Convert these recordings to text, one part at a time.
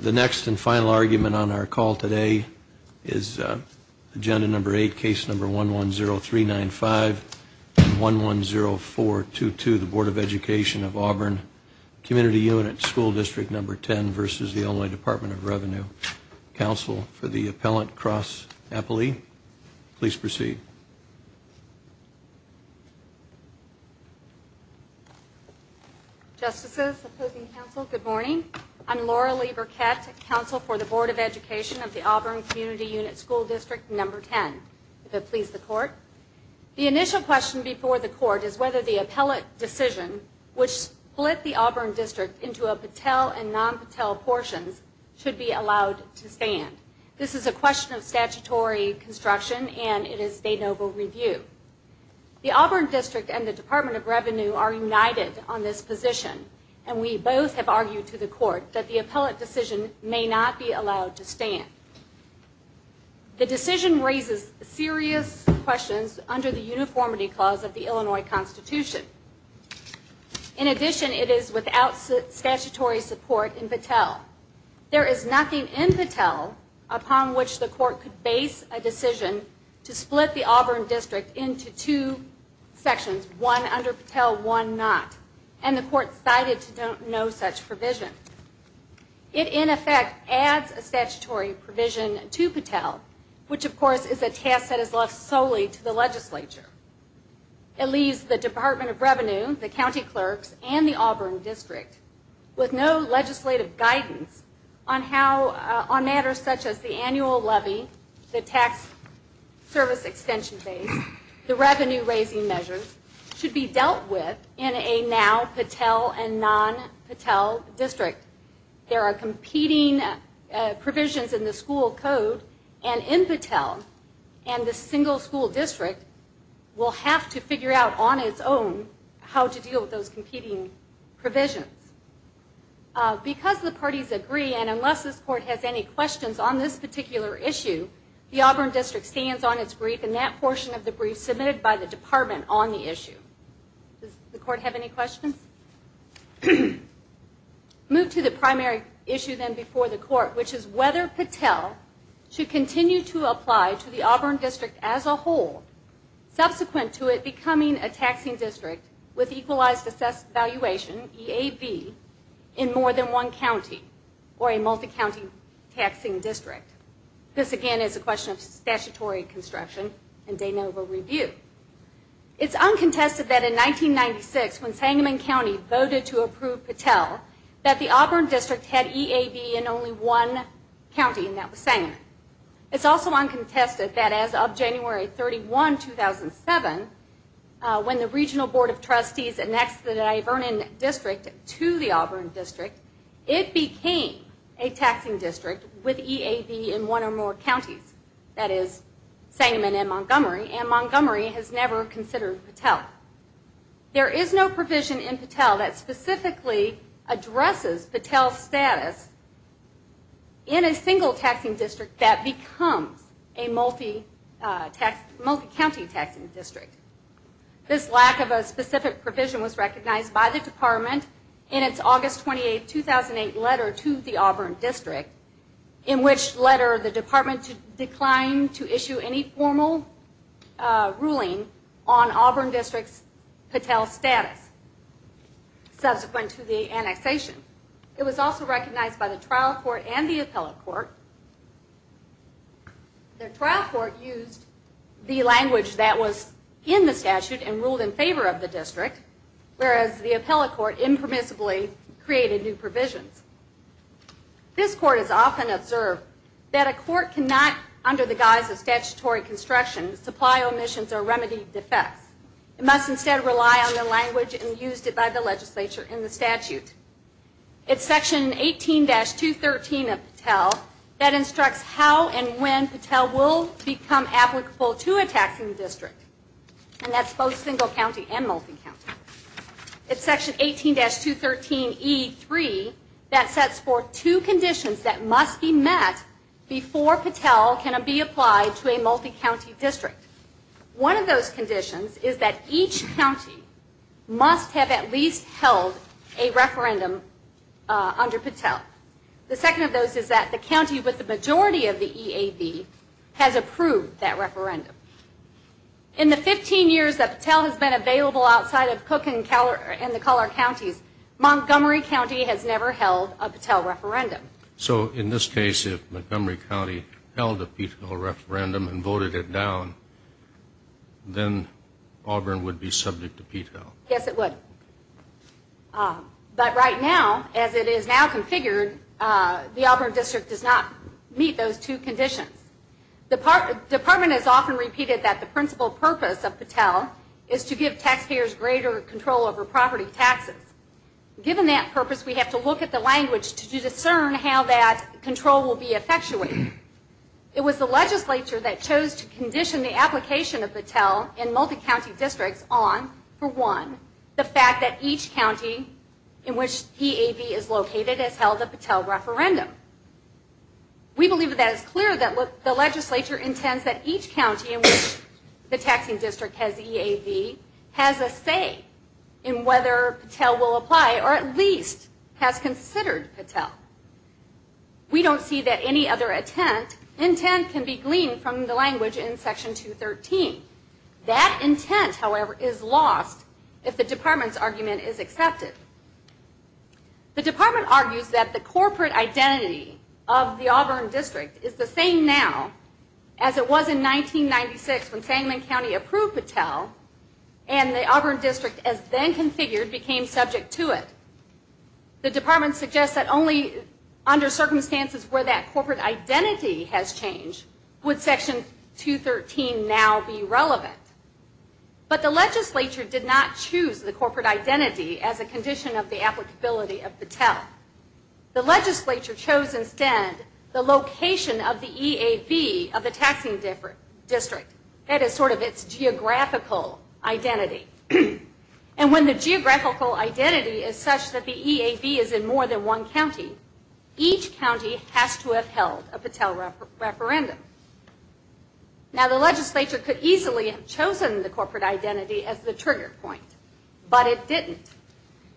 The next and final argument on our call today is Agenda No. 8, Case No. 110395 and 110422, the Board of Education of Auburn Community Unit School District No. 10 v. Illinois Department of Revenue. Counsel for the Appellant, Cross Appley, please proceed. Justices, opposing counsel, good morning. I'm Laura Leber-Kett, Counsel for the Board of Education of the Auburn Community Unit School District No. 10. If it pleases the Court. The initial question before the Court is whether the Appellate decision, which split the Auburn District into a Patel and non-Patel portion, should be allowed to stand. This is a question of statutory construction and it is a noble review. The Auburn District and the Department of Revenue are united on this position, and we both have argued to the Court that the Appellate decision may not be allowed to stand. The decision raises serious questions under the Uniformity Clause of the Illinois Constitution. In addition, it is without statutory support in Patel. There is nothing in Patel upon which the Court could base a decision to split the Auburn District into two sections, one under Patel, one not, and the Court cited no such provision. It, in effect, adds a statutory provision to Patel, which of course is a task that is left solely to the Legislature. It leaves the Department of Revenue, the County Clerks, and the Auburn District with no legislative guidance on matters such as the annual levy, the tax service extension base, the revenue raising measures should be dealt with in a now Patel and non-Patel district. There are competing provisions in the school code, and in Patel, and the single school district will have to figure out on its own how to deal with those competing provisions. Because the parties agree, and unless this Court has any questions on this particular issue, the Auburn District stands on its brief, and that portion of the brief is submitted by the Department on the issue. Does the Court have any questions? Move to the primary issue then before the Court, which is whether Patel should continue to apply to the Auburn District as a whole, subsequent to it becoming a taxing district with equalized assessed valuation, EAB, in more than one county, or a multi-county taxing district. This again is a question of statutory construction and de novo review. It's uncontested that in 1996, when Sangamon County voted to approve Patel, that the Auburn District had EAB in only one county, and that was Sangamon. It's also uncontested that as of January 31, 2007, when the Regional Board of Trustees annexed the Divernon District to the Auburn District, it became a taxing district with EAB in one or more counties. That is Sangamon and Montgomery, and Montgomery has never considered Patel. There is no provision in Patel that specifically addresses Patel's status in a single taxing district that becomes a multi-county taxing district. This lack of a specific provision was recognized by the Department in its August 28, 2008, letter to the Auburn District, in which letter the Department declined to issue any formal ruling on Auburn District's Patel status subsequent to the annexation. It was also recognized by the trial court and the appellate court. The trial court used the language that was in the statute and ruled in favor of the district, whereas the appellate court impermissibly created new provisions. This court has often observed that a court cannot, under the guise of statutory construction, supply omissions or remedy defects. It must instead rely on the language used by the legislature in the statute. It's section 18-213 of Patel that instructs how and when Patel will become applicable to a taxing district, and that's both single county and multi-county. It's section 18-213E3 that sets forth two conditions that must be met before Patel can be applied to a multi-county district. One of those conditions is that each county must have at least held a referendum under Patel. The second of those is that the county with the majority of the EAB has approved that referendum. In the 15 years that Patel has been available outside of Cook and the Collier counties, Montgomery County has never held a Patel referendum. So in this case, if Montgomery County held a Patel referendum and voted it down, then Auburn would be subject to Patel? Yes, it would. But right now, as it is now configured, the Auburn district does not meet those two conditions. The department has often repeated that the principal purpose of Patel is to give taxpayers greater control over property taxes. Given that purpose, we have to look at the language to discern how that control will be effectuated. It was the legislature that chose to condition the application of Patel in multi-county districts on, for one, the fact that each county in which EAB is located has held a Patel referendum. We believe that it is clear that the legislature intends that each county in which the taxing district has EAB has a say in whether Patel will apply or at least has considered Patel. We don't see that any other intent can be gleaned from the language in Section 213. That intent, however, is lost if the department's argument is accepted. The department argues that the corporate identity of the Auburn district is the same now as it was in 1996 when Sangamon County approved Patel and the Auburn district as then configured became subject to it. The department suggests that only under circumstances where that corporate identity has changed would Section 213 now be relevant. But the legislature did not choose the corporate identity as a condition of the applicability of Patel. The legislature chose instead the location of the EAB of the taxing district. That is sort of its geographical identity. And when the geographical identity is such that the EAB is in more than one county, each county has to have held a Patel referendum. Now the legislature could easily have chosen the corporate identity as the trigger point. But it didn't.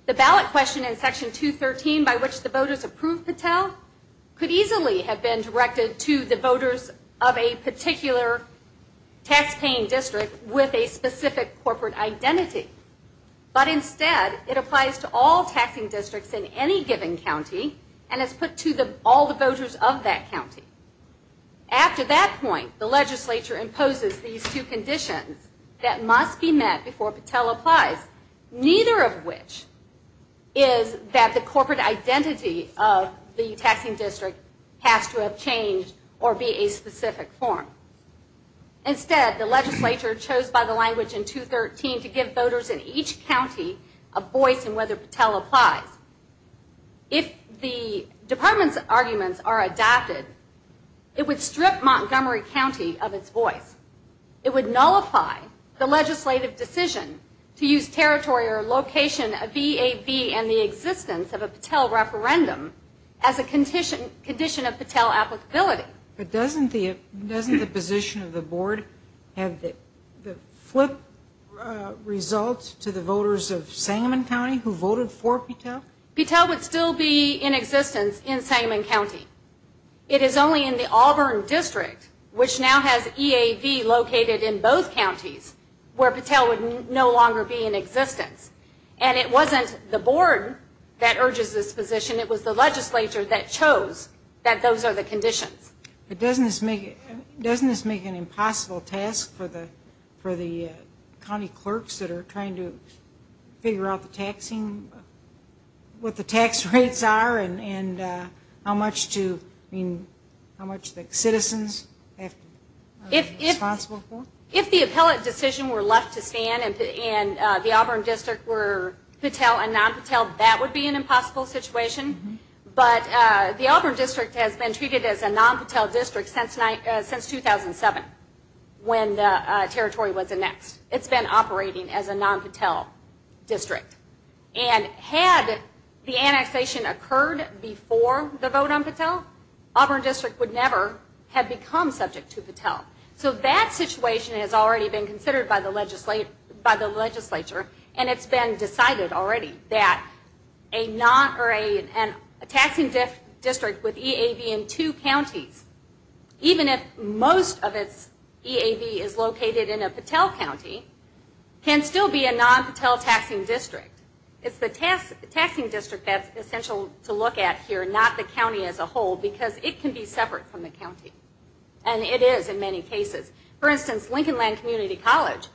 The ballot question in Section 213 by which the voters approved Patel could easily have been directed to the voters of a particular tax-paying district with a specific corporate identity. But instead, it applies to all taxing districts in any given county and is put to all the voters of that county. After that point, the legislature imposes these two conditions that must be met before Patel applies, neither of which is that the corporate identity of the taxing district has to have changed or be a specific form. Instead, the legislature chose by the language in 213 to give voters in each county a voice in whether Patel applies. If the department's arguments are adapted, it would strip Montgomery County of its voice. It would nullify the legislative decision to use territory or location of EAB and the existence of a Patel referendum as a condition of Patel applicability. But doesn't the position of the board have the flip results to the voters of Sangamon County who voted for Patel? Patel would still be in existence in Sangamon County. It is only in the Auburn district, which now has EAB located in both counties, where Patel would no longer be in existence. And it wasn't the board that urges this position. It was the legislature that chose that those are the conditions. But doesn't this make an impossible task for the county clerks that are trying to figure out what the tax rates are and how much the citizens have to be responsible for? If the appellate decision were left to stand and the Auburn district were Patel and non-Patel, that would be an impossible situation. But the Auburn district has been treated as a non-Patel district since 2007 when the territory was annexed. It's been operating as a non-Patel district. And had the annexation occurred before the vote on Patel, Auburn district would never have become subject to Patel. So that situation has already been considered by the legislature, and it's been decided already that a taxing district with EAB in two counties, even if most of its EAB is located in a Patel county, can still be a non-Patel taxing district. It's the taxing district that's essential to look at here, not the county as a whole, because it can be separate from the county. And it is in many cases. For instance, Lincolnland Community College,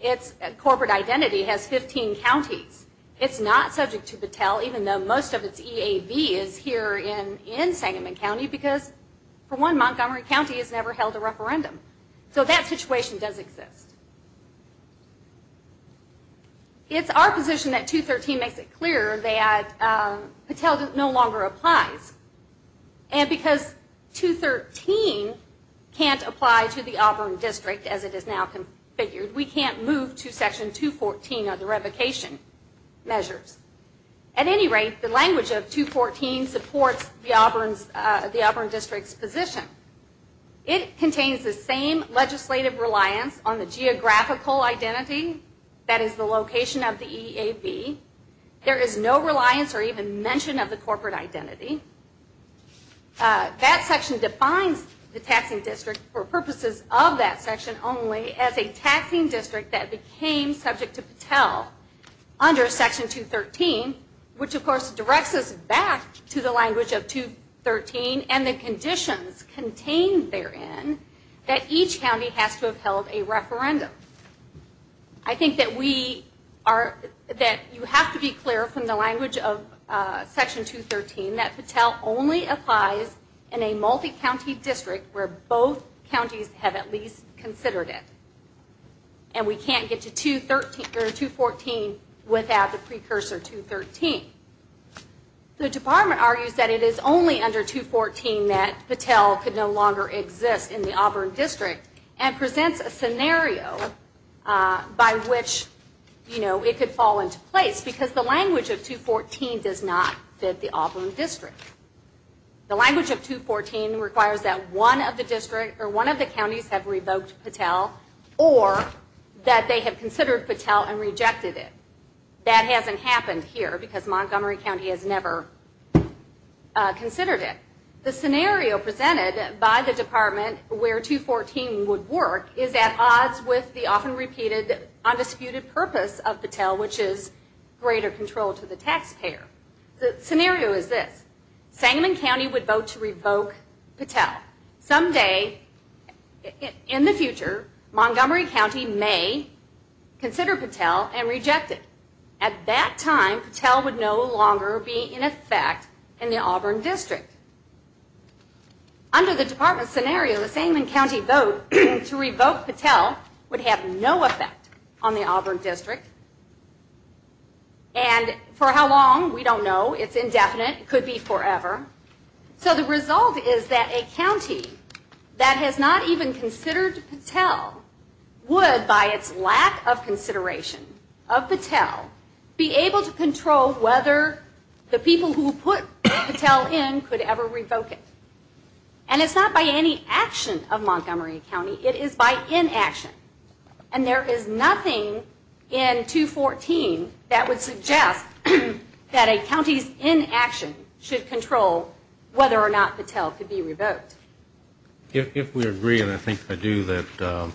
its corporate identity has 15 counties. It's not subject to Patel even though most of its EAB is here in Sangamon County because, for one, Montgomery County has never held a referendum. So that situation does exist. It's our position that 213 makes it clear that Patel no longer applies. And because 213 can't apply to the Auburn district as it is now configured, we can't move to Section 214 of the revocation measures. At any rate, the language of 214 supports the Auburn district's position. It contains the same legislative reliance on the geographical identity, that is the location of the EAB. There is no reliance or even mention of the corporate identity. That section defines the taxing district for purposes of that section only as a taxing district that became subject to Patel under Section 213, which, of course, directs us back to the language of 213 and the conditions contained therein that each county has to have held a referendum. I think that you have to be clear from the language of Section 213 that Patel only applies in a multi-county district where both counties have at least considered it. And we can't get to 214 without the precursor 213. The department argues that it is only under 214 that Patel could no longer exist in the Auburn district and presents a scenario by which it could fall into place because the language of 214 does not fit the Auburn district. The language of 214 requires that one of the counties have revoked Patel or that they have considered Patel and rejected it. That hasn't happened here because Montgomery County has never considered it. The scenario presented by the department where 214 would work is at odds with the often repeated undisputed purpose of Patel, which is greater control to the taxpayer. The scenario is this. Sangamon County would vote to revoke Patel. Someday in the future, Montgomery County may consider Patel and reject it. At that time, Patel would no longer be in effect in the Auburn district. Under the department scenario, the Sangamon County vote to revoke Patel would have no effect on the Auburn district. And for how long, we don't know. It's indefinite. It could be forever. So the result is that a county that has not even considered Patel would, by its lack of consideration of Patel, be able to control whether the people who put Patel in could ever revoke it. And it's not by any action of Montgomery County. It is by inaction. And there is nothing in 214 that would suggest that a county's inaction should control whether or not Patel could be revoked. If we agree, and I think I do, that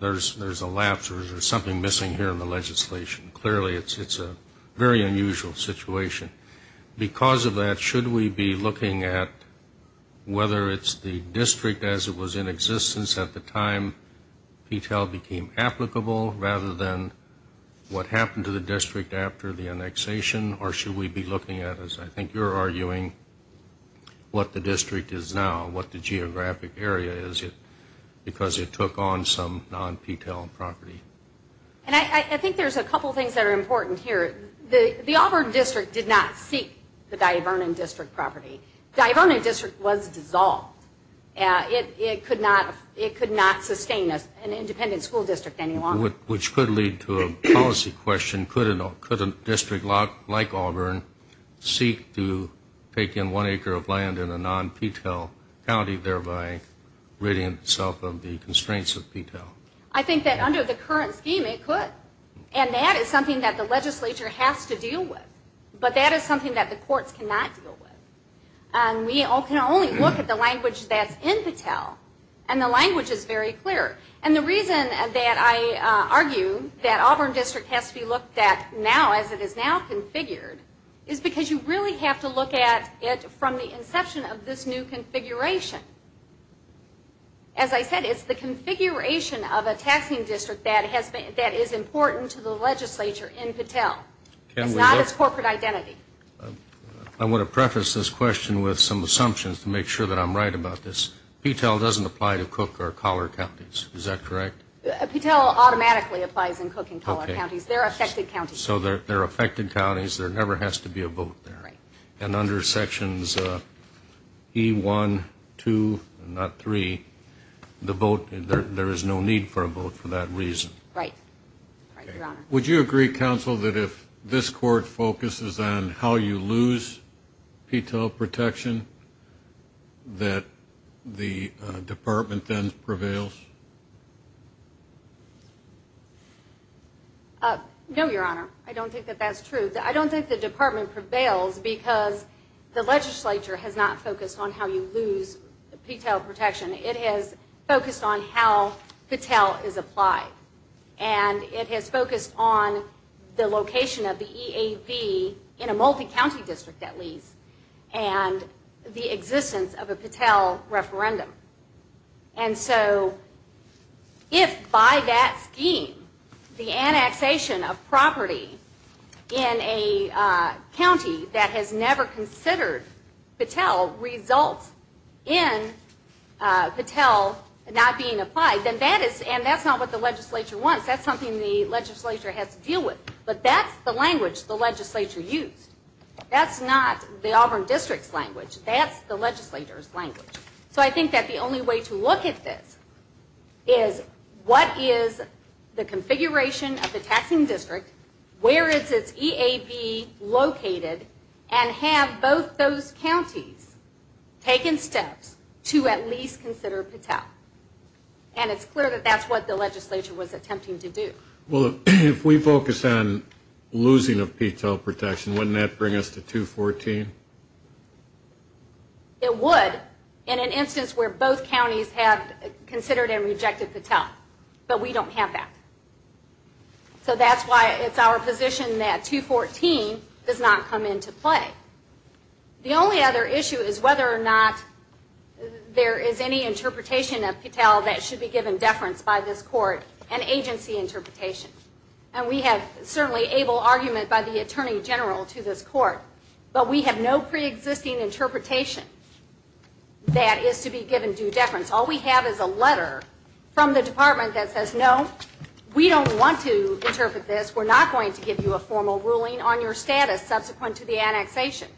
there's a lapse or there's something missing here in the legislation, clearly it's a very unusual situation. Because of that, should we be looking at whether it's the district as it was in existence at the time Patel became applicable, rather than what happened to the district after the annexation, or should we be looking at, as I think you're arguing, what the district is now, what the geographic area is, because it took on some non-Patel property? And I think there's a couple things that are important here. The Auburn district did not seek the Divernon district property. Divernon district was dissolved. It could not sustain an independent school district any longer. Which could lead to a policy question. Could a district like Auburn seek to take in one acre of land in a non-Patel county, thereby ridding itself of the constraints of Patel? I think that under the current scheme it could. And that is something that the legislature has to deal with. But that is something that the courts cannot deal with. And we can only look at the language that's in Patel. And the language is very clear. And the reason that I argue that Auburn district has to be looked at now, as it is now configured, is because you really have to look at it from the inception of this new configuration. As I said, it's the configuration of a taxing district that is important to the legislature in Patel. It's not its corporate identity. I want to preface this question with some assumptions to make sure that I'm right about this. Patel doesn't apply to Cook or Collar counties. Is that correct? Patel automatically applies in Cook and Collar counties. They're affected counties. So they're affected counties. There never has to be a vote there. And under sections E1, 2, and not 3, there is no need for a vote for that reason. Right. Right, Your Honor. Would you agree, counsel, that if this court focuses on how you lose Patel protection, that the department then prevails? No, Your Honor. I don't think that that's true. I don't think the department prevails because the legislature has not focused on how you lose Patel protection. It has focused on how Patel is applied. And it has focused on the location of the EAV in a multi-county district, at least, and the existence of a Patel referendum. And so if by that scheme the annexation of property in a county that has never considered Patel results in Patel not being applied, then that is, and that's not what the legislature wants. That's something the legislature has to deal with. But that's the language the legislature used. That's not the Auburn District's language. That's the legislature's language. So I think that the only way to look at this is what is the configuration of the taxing district, where is its EAV located, and have both those counties taken steps to at least consider Patel. And it's clear that that's what the legislature was attempting to do. Well, if we focus on losing of Patel protection, wouldn't that bring us to 214? It would in an instance where both counties have considered and rejected Patel. But we don't have that. So that's why it's our position that 214 does not come into play. The only other issue is whether or not there is any interpretation of Patel that should be given deference by this court, an agency interpretation. And we have certainly able argument by the Attorney General to this court, but we have no preexisting interpretation that is to be given due deference. All we have is a letter from the department that says, No, we don't want to interpret this. We're not going to give you a formal ruling on your status subsequent to the annexation.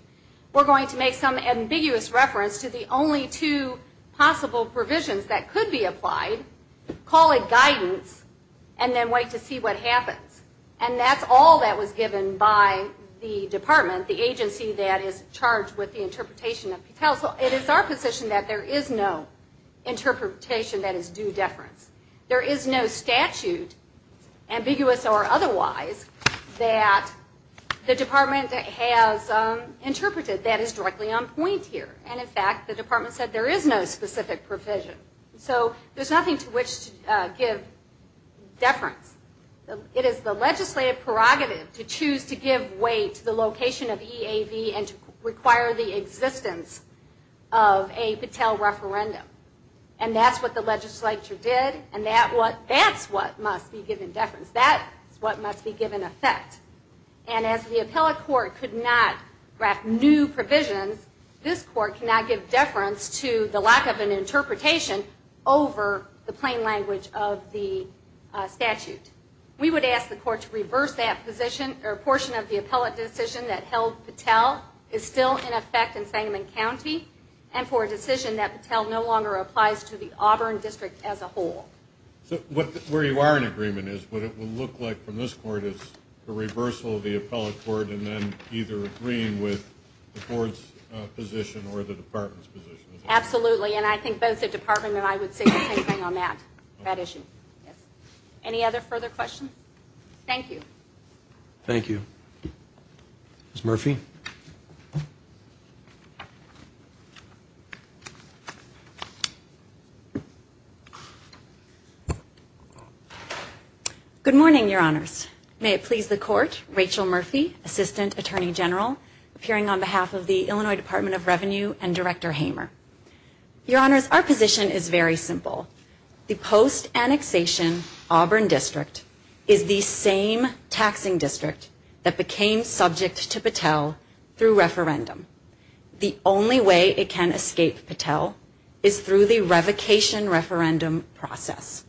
We're going to make some ambiguous reference to the only two possible provisions that could be applied, call it guidance, and then wait to see what happens. And that's all that was given by the department, the agency that is charged with the interpretation of Patel. It is our position that there is no interpretation that is due deference. There is no statute, ambiguous or otherwise, that the department has interpreted that is directly on point here. And in fact, the department said there is no specific provision. So there's nothing to which to give deference. It is the legislative prerogative to choose to give way to the location of EAV and to require the existence of a Patel referendum. And that's what the legislature did, and that's what must be given deference. That's what must be given effect. And as the appellate court could not draft new provisions, this court cannot give deference to the lack of an interpretation over the plain language of the statute. We would ask the court to reverse that position or portion of the appellate decision that held Patel is still in effect in Sangamon County and for a decision that Patel no longer applies to the Auburn district as a whole. So where you are in agreement is what it will look like from this court is the reversal of the appellate court and then either agreeing with the board's position or the department's position. Absolutely, and I think both the department and I would say the same thing on that issue. Any other further questions? Thank you. Thank you. Ms. Murphy. Good morning, Your Honors. May it please the court, Rachel Murphy, Assistant Attorney General, appearing on behalf of the Illinois Department of Revenue and Director Hamer. Your Honors, our position is very simple. The post-annexation Auburn district is the same taxing district that became subject to Patel through referendum. The only way it can escape Patel is through the revocation referendum process.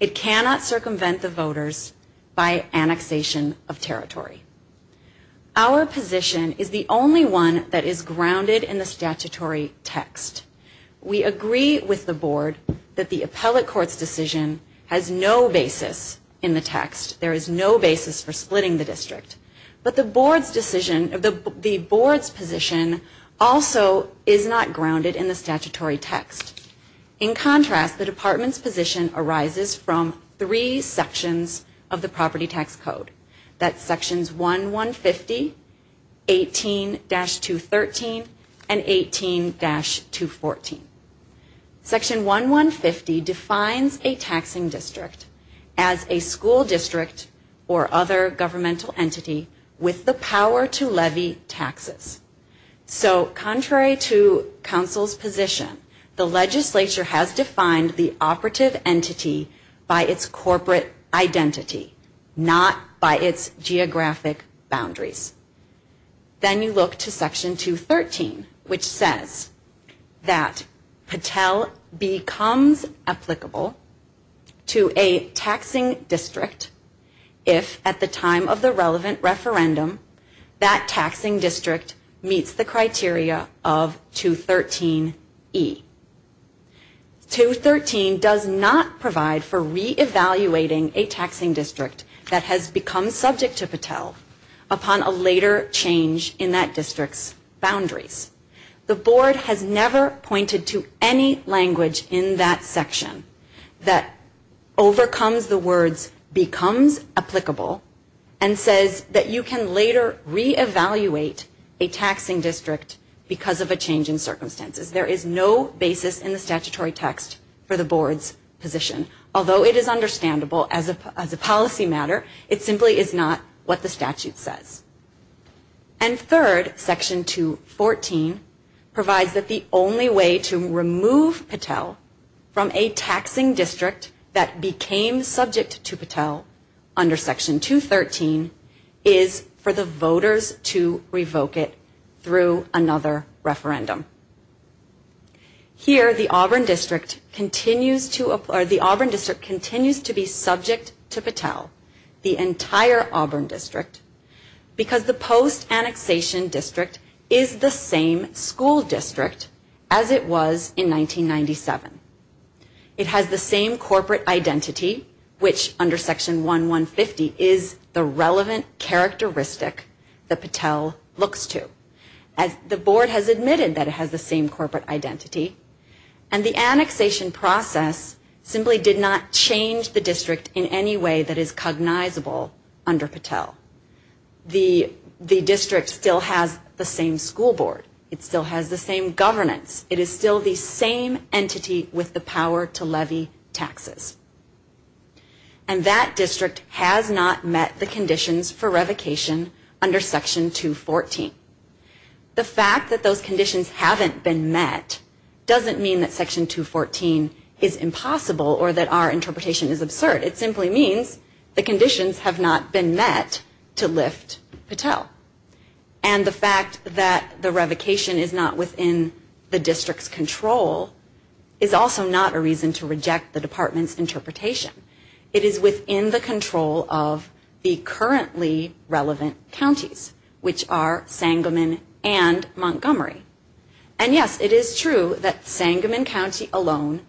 It cannot circumvent the voters by annexation of territory. Our position is the only one that is grounded in the statutory text. We agree with the board that the appellate court's decision has no basis in the text. There is no basis for splitting the district. But the board's position also is not grounded in the statutory text. In contrast, the department's position arises from three sections of the property tax code. That's sections 1-150, 18-213, and 18-214. Section 1-150 defines a taxing district as a school district or other governmental entity with the power to levy taxes. So contrary to counsel's position, the legislature has defined the operative entity by its corporate identity, not by its geographic boundaries. Then you look to section 213, which says that Patel becomes applicable to a taxing district if at the time of the relevant referendum that taxing district meets the criteria of 213E. 213 does not provide for re-evaluating a taxing district that has become subject to Patel upon a later change in that district's boundaries. The board has never pointed to any language in that section that overcomes the words becomes applicable and says that you can later re-evaluate a taxing district because of a change in circumstances. There is no basis in the statutory text for the board's position. Although it is understandable as a policy matter, it simply is not what the statute says. And third, section 214 provides that the only way to remove Patel from a taxing district that became subject to Patel under section 213 is for the voters to revoke it through another referendum. Here, the Auburn district continues to be subject to Patel, the entire Auburn district, because the post-annexation district is the same school district as it was in 1997. It has the same corporate identity, which under section 1150 is the relevant characteristic that Patel looks to. The board has admitted that it has the same corporate identity, and the annexation process simply did not change the district in any way that is cognizable under Patel. The district still has the same school board. It still has the same governance. It is still the same entity with the power to levy taxes. And that district has not met the conditions for revocation under section 214. The fact that those conditions haven't been met doesn't mean that section 214 is impossible or that our interpretation is absurd. It simply means the conditions have not been met to lift Patel. And the fact that the revocation is not within the district's control is also not a reason to reject the department's interpretation. It is within the control of the currently relevant counties, which are Sangamon and Montgomery. And yes, it is true that Sangamon County alone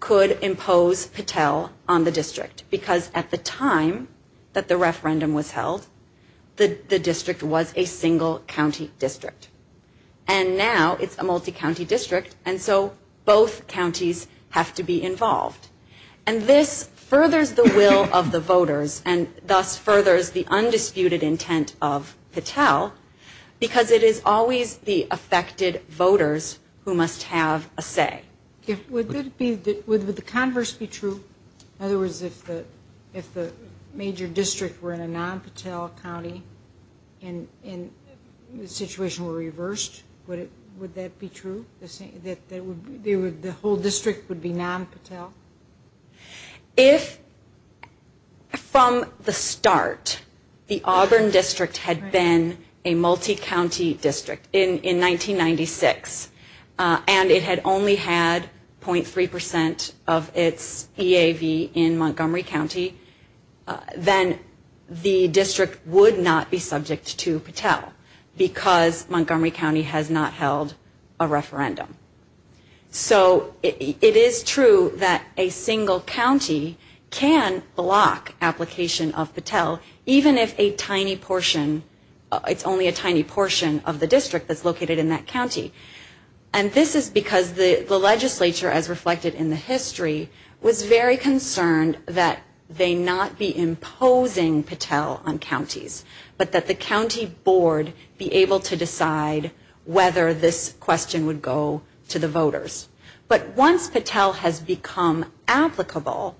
could impose Patel on the district because at the time that the referendum was held, the district was a single county district. And now it's a multi-county district, and so both counties have to be involved. And this furthers the will of the voters and thus furthers the undisputed intent of Patel because it is always the affected voters who must have a say. Would the converse be true? In other words, if the major district were in a non-Patel county and the situation were reversed, would that be true? The whole district would be non-Patel? If from the start the Auburn district had been a multi-county district in 1996 and it had only had 0.3% of its EAV in Montgomery County, then the district would not be subject to Patel because Montgomery County has not held a referendum. So it is true that a single county can block application of Patel, even if it's only a tiny portion of the district that's located in that county. And this is because the legislature, as reflected in the history, was very concerned that they not be imposing Patel on counties, but that the county board be able to decide whether this question would go to the voters. But once Patel has become applicable,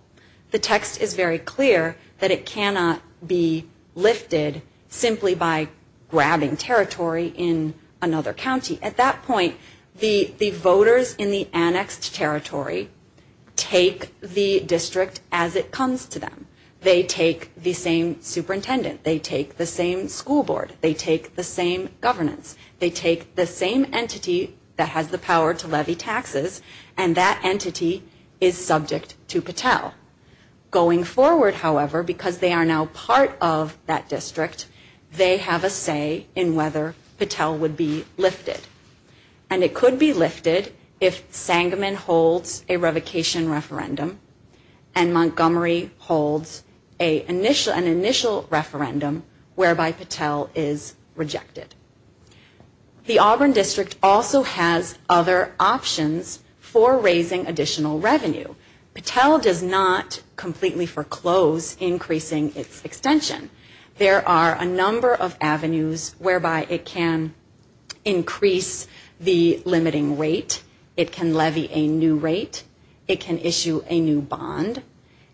the text is very clear that it cannot be lifted simply by grabbing territory in another county. At that point, the voters in the annexed territory take the district as it comes to them. They take the same superintendent. They take the same school board. They take the same governance. They take the same entity that has the power to levy taxes, and that entity is subject to Patel. Going forward, however, because they are now part of that district, they have a say in whether Patel would be lifted. And it could be lifted if Sangamon holds a revocation referendum and Montgomery holds an initial referendum whereby Patel is rejected. The Auburn district also has other options for raising additional revenue. Patel does not completely foreclose increasing its extension. There are a number of avenues whereby it can increase the limiting rate. It can levy a new rate. It can issue a new bond.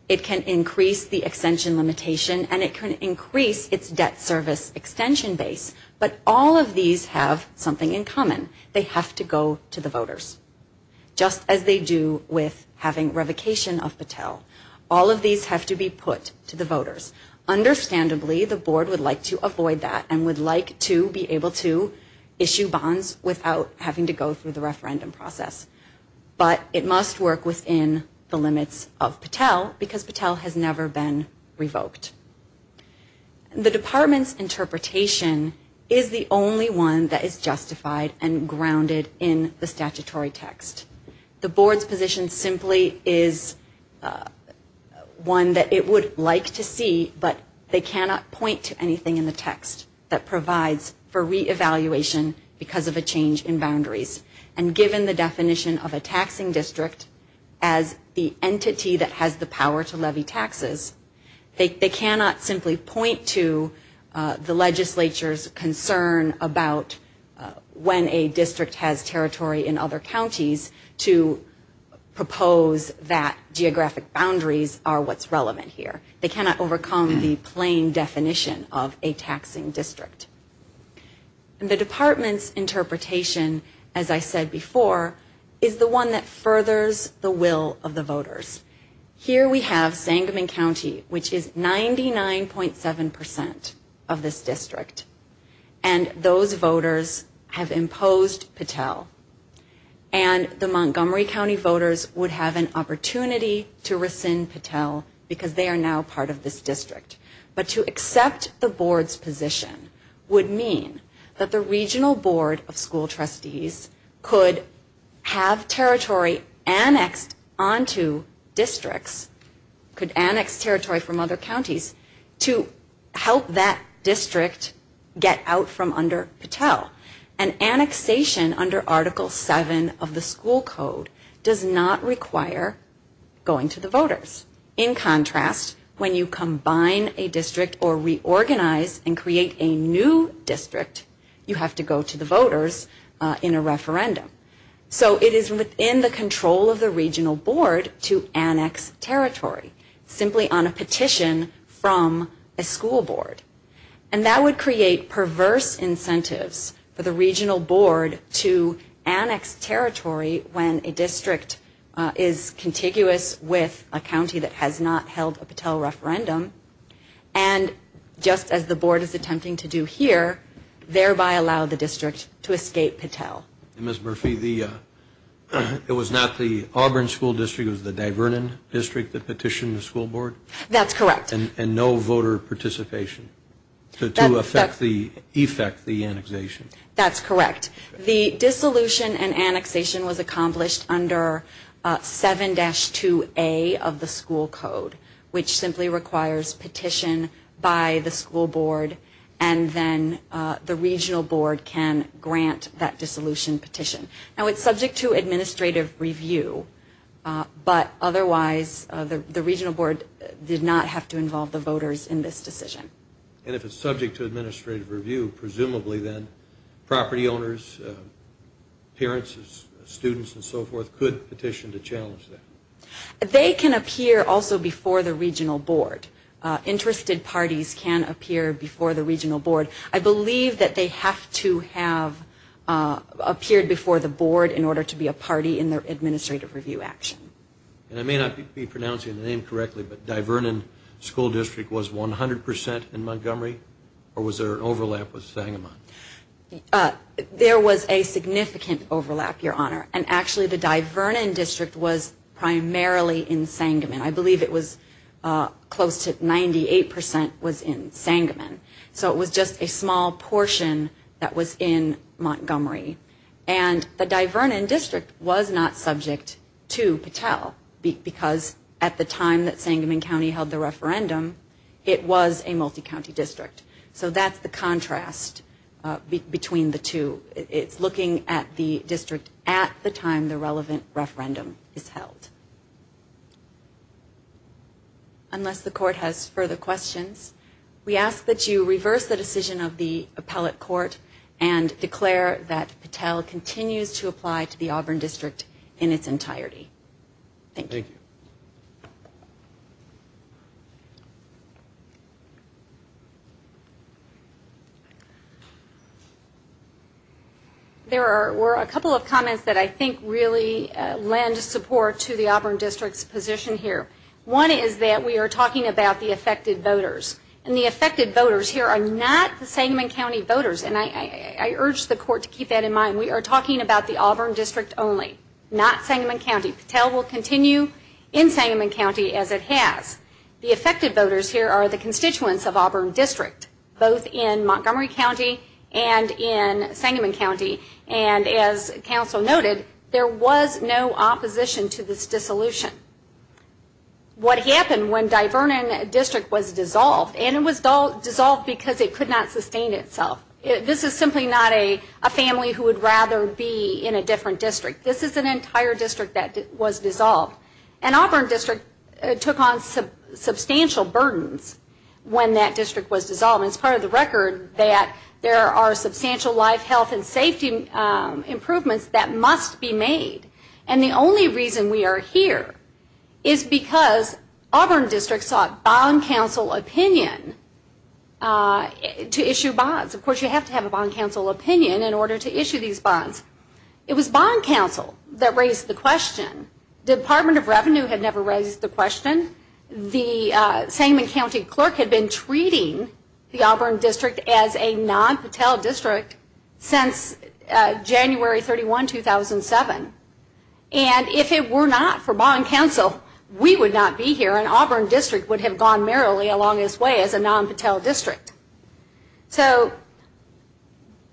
It can increase the extension limitation, and it can increase its debt service extension base. But all of these have something in common. They have to go to the voters, just as they do with having revocation of Patel. All of these have to be put to the voters. Understandably, the board would like to avoid that and would like to be able to issue bonds without having to go through the referendum process. But it must work within the limits of Patel because Patel has never been revoked. The department's interpretation is the only one that is justified and grounded in the statutory text. The board's position simply is one that it would like to see, but they cannot point to anything in the text that provides for reevaluation because of a change in boundaries. And given the definition of a taxing district as the entity that has the power to levy taxes, they cannot simply point to the legislature's concern about when a district has territory in other counties to propose that geographic boundaries are what's relevant here. They cannot overcome the plain definition of a taxing district. The department's interpretation, as I said before, is the one that furthers the will of the voters. Here we have Sangamon County, which is 99.7% of this district, and those voters have imposed Patel. And the Montgomery County voters would have an opportunity to rescind Patel because they are now part of this district. But to accept the board's position would mean that the regional board of school trustees could have territory annexed onto districts, could annex territory from other counties, to help that district get out from under Patel. And annexation under Article 7 of the school code does not require going to the voters. In contrast, when you combine a district or reorganize and create a new district, you have to go to the voters in a referendum. So it is within the control of the regional board to annex territory, simply on a petition from a school board. And that would create perverse incentives for the regional board to annex territory when a district is contiguous with a county that has not held a Patel referendum. And just as the board is attempting to do here, thereby allow the district to escape Patel. And Ms. Murphy, it was not the Auburn School District, it was the Divernon District that petitioned the school board? That's correct. And no voter participation to effect the annexation? That's correct. The dissolution and annexation was accomplished under 7-2A of the school code, which simply requires petition by the school board, and then the regional board can grant that dissolution petition. Now, it's subject to administrative review, but otherwise the regional board did not have to involve the voters in this decision. And if it's subject to administrative review, presumably then property owners, parents, students, and so forth could petition to challenge that? They can appear also before the regional board. Interested parties can appear before the regional board. I believe that they have to have appeared before the board in order to be a party in their administrative review action. And I may not be pronouncing the name correctly, but Divernon School District was 100 percent in Montgomery, or was there an overlap with Sangamon? There was a significant overlap, Your Honor. And actually the Divernon District was primarily in Sangamon. I believe it was close to 98 percent was in Sangamon. So it was just a small portion that was in Montgomery. And the Divernon District was not subject to Patel, because at the time that Sangamon County held the referendum, it was a multi-county district. So that's the contrast between the two. So it's looking at the district at the time the relevant referendum is held. Unless the court has further questions, we ask that you reverse the decision of the appellate court and declare that Patel continues to apply to the Auburn District in its entirety. Thank you. Thank you. There were a couple of comments that I think really lend support to the Auburn District's position here. One is that we are talking about the affected voters, and the affected voters here are not the Sangamon County voters. And I urge the court to keep that in mind. We are talking about the Auburn District only, not Sangamon County. Patel will continue in Sangamon County as it has. The affected voters here are the constituents of Auburn District, both in Montgomery County and in Sangamon County. And as counsel noted, there was no opposition to this dissolution. What happened when Divernon District was dissolved, and it was dissolved because it could not sustain itself. This is simply not a family who would rather be in a different district. This is an entire district that was dissolved. And Auburn District took on substantial burdens when that district was dissolved. It's part of the record that there are substantial life, health, and safety improvements that must be made. And the only reason we are here is because Auburn District sought bond counsel opinion to issue bonds. Of course, you have to have a bond counsel opinion in order to issue these bonds. It was bond counsel that raised the question. Department of Revenue had never raised the question. The Sangamon County clerk had been treating the Auburn District as a non-Patel district since January 31, 2007. And if it were not for bond counsel, we would not be here, and Auburn District would have gone merrily along its way as a non-Patel district. So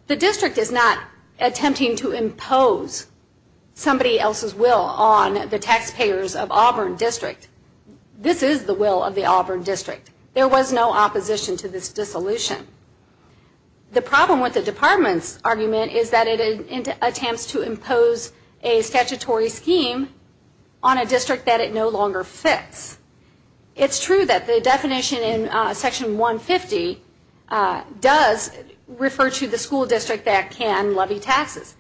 the district is not attempting to impose somebody else's will on the taxpayers of Auburn District. This is the will of the Auburn District. There was no opposition to this dissolution. The problem with the department's argument is that it attempts to impose a statutory scheme on a district that it no longer fits. It's true that the definition in Section 150 does refer to the school district that can levy taxes.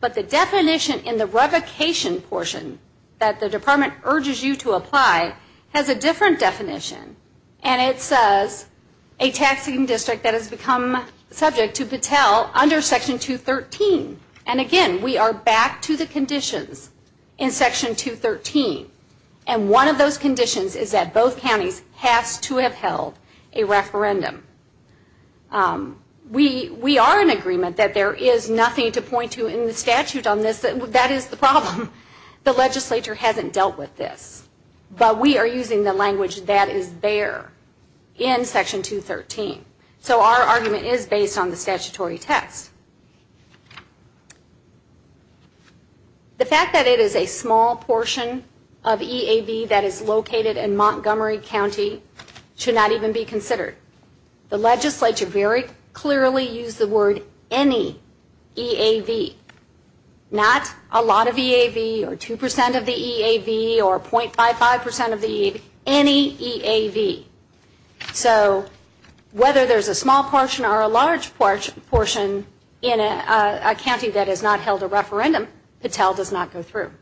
But the definition in the revocation portion that the department urges you to apply has a different definition. And it says a taxing district that has become subject to Patel under Section 213. And again, we are back to the conditions in Section 213. And one of those conditions is that both counties have to have held a referendum. We are in agreement that there is nothing to point to in the statute on this. That is the problem. The legislature hasn't dealt with this. But we are using the language that is there in Section 213. So our argument is based on the statutory text. The fact that it is a small portion of EAV that is located in Montgomery County should not even be considered. The legislature very clearly used the word any EAV. Not a lot of EAV or 2% of the EAV or 0.55% of the EAV. Any EAV. So whether there is a small portion or a large portion in a county that has not held a referendum, Patel does not go through.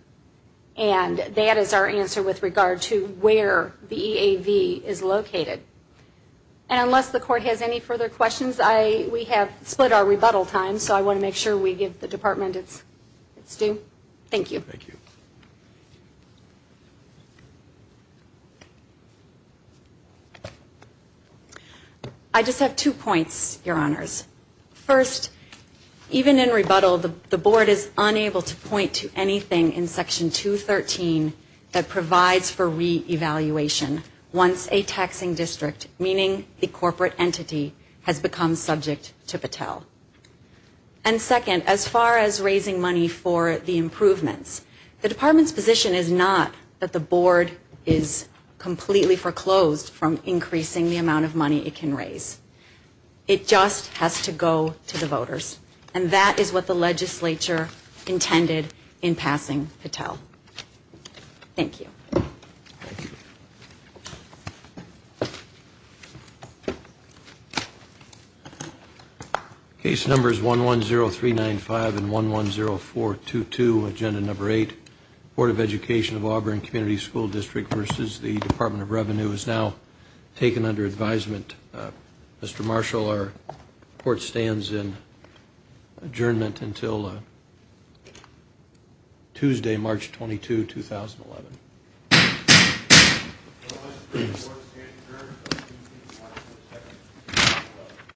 And that is our answer with regard to where the EAV is located. And unless the court has any further questions, we have split our rebuttal time. So I want to make sure we give the department its due. Thank you. Thank you. I just have two points, Your Honors. First, even in rebuttal, the board is unable to point to anything in Section 213 that provides for re-evaluation once a taxing district, meaning the corporate entity, has become subject to Patel. And second, as far as raising money for the improvements, the department's position is not that the board is completely foreclosed from increasing the amount of money it can raise. It just has to go to the voters. And that is what the legislature intended in passing Patel. Thank you. Case numbers 110395 and 110422, Agenda Number 8, Board of Education of Auburn Community School District versus the Department of Revenue is now taken under advisement. Mr. Marshall, our report stands in adjournment until Tuesday, March 22, 2011. The report stands adjourned until Tuesday, March 22, 2011.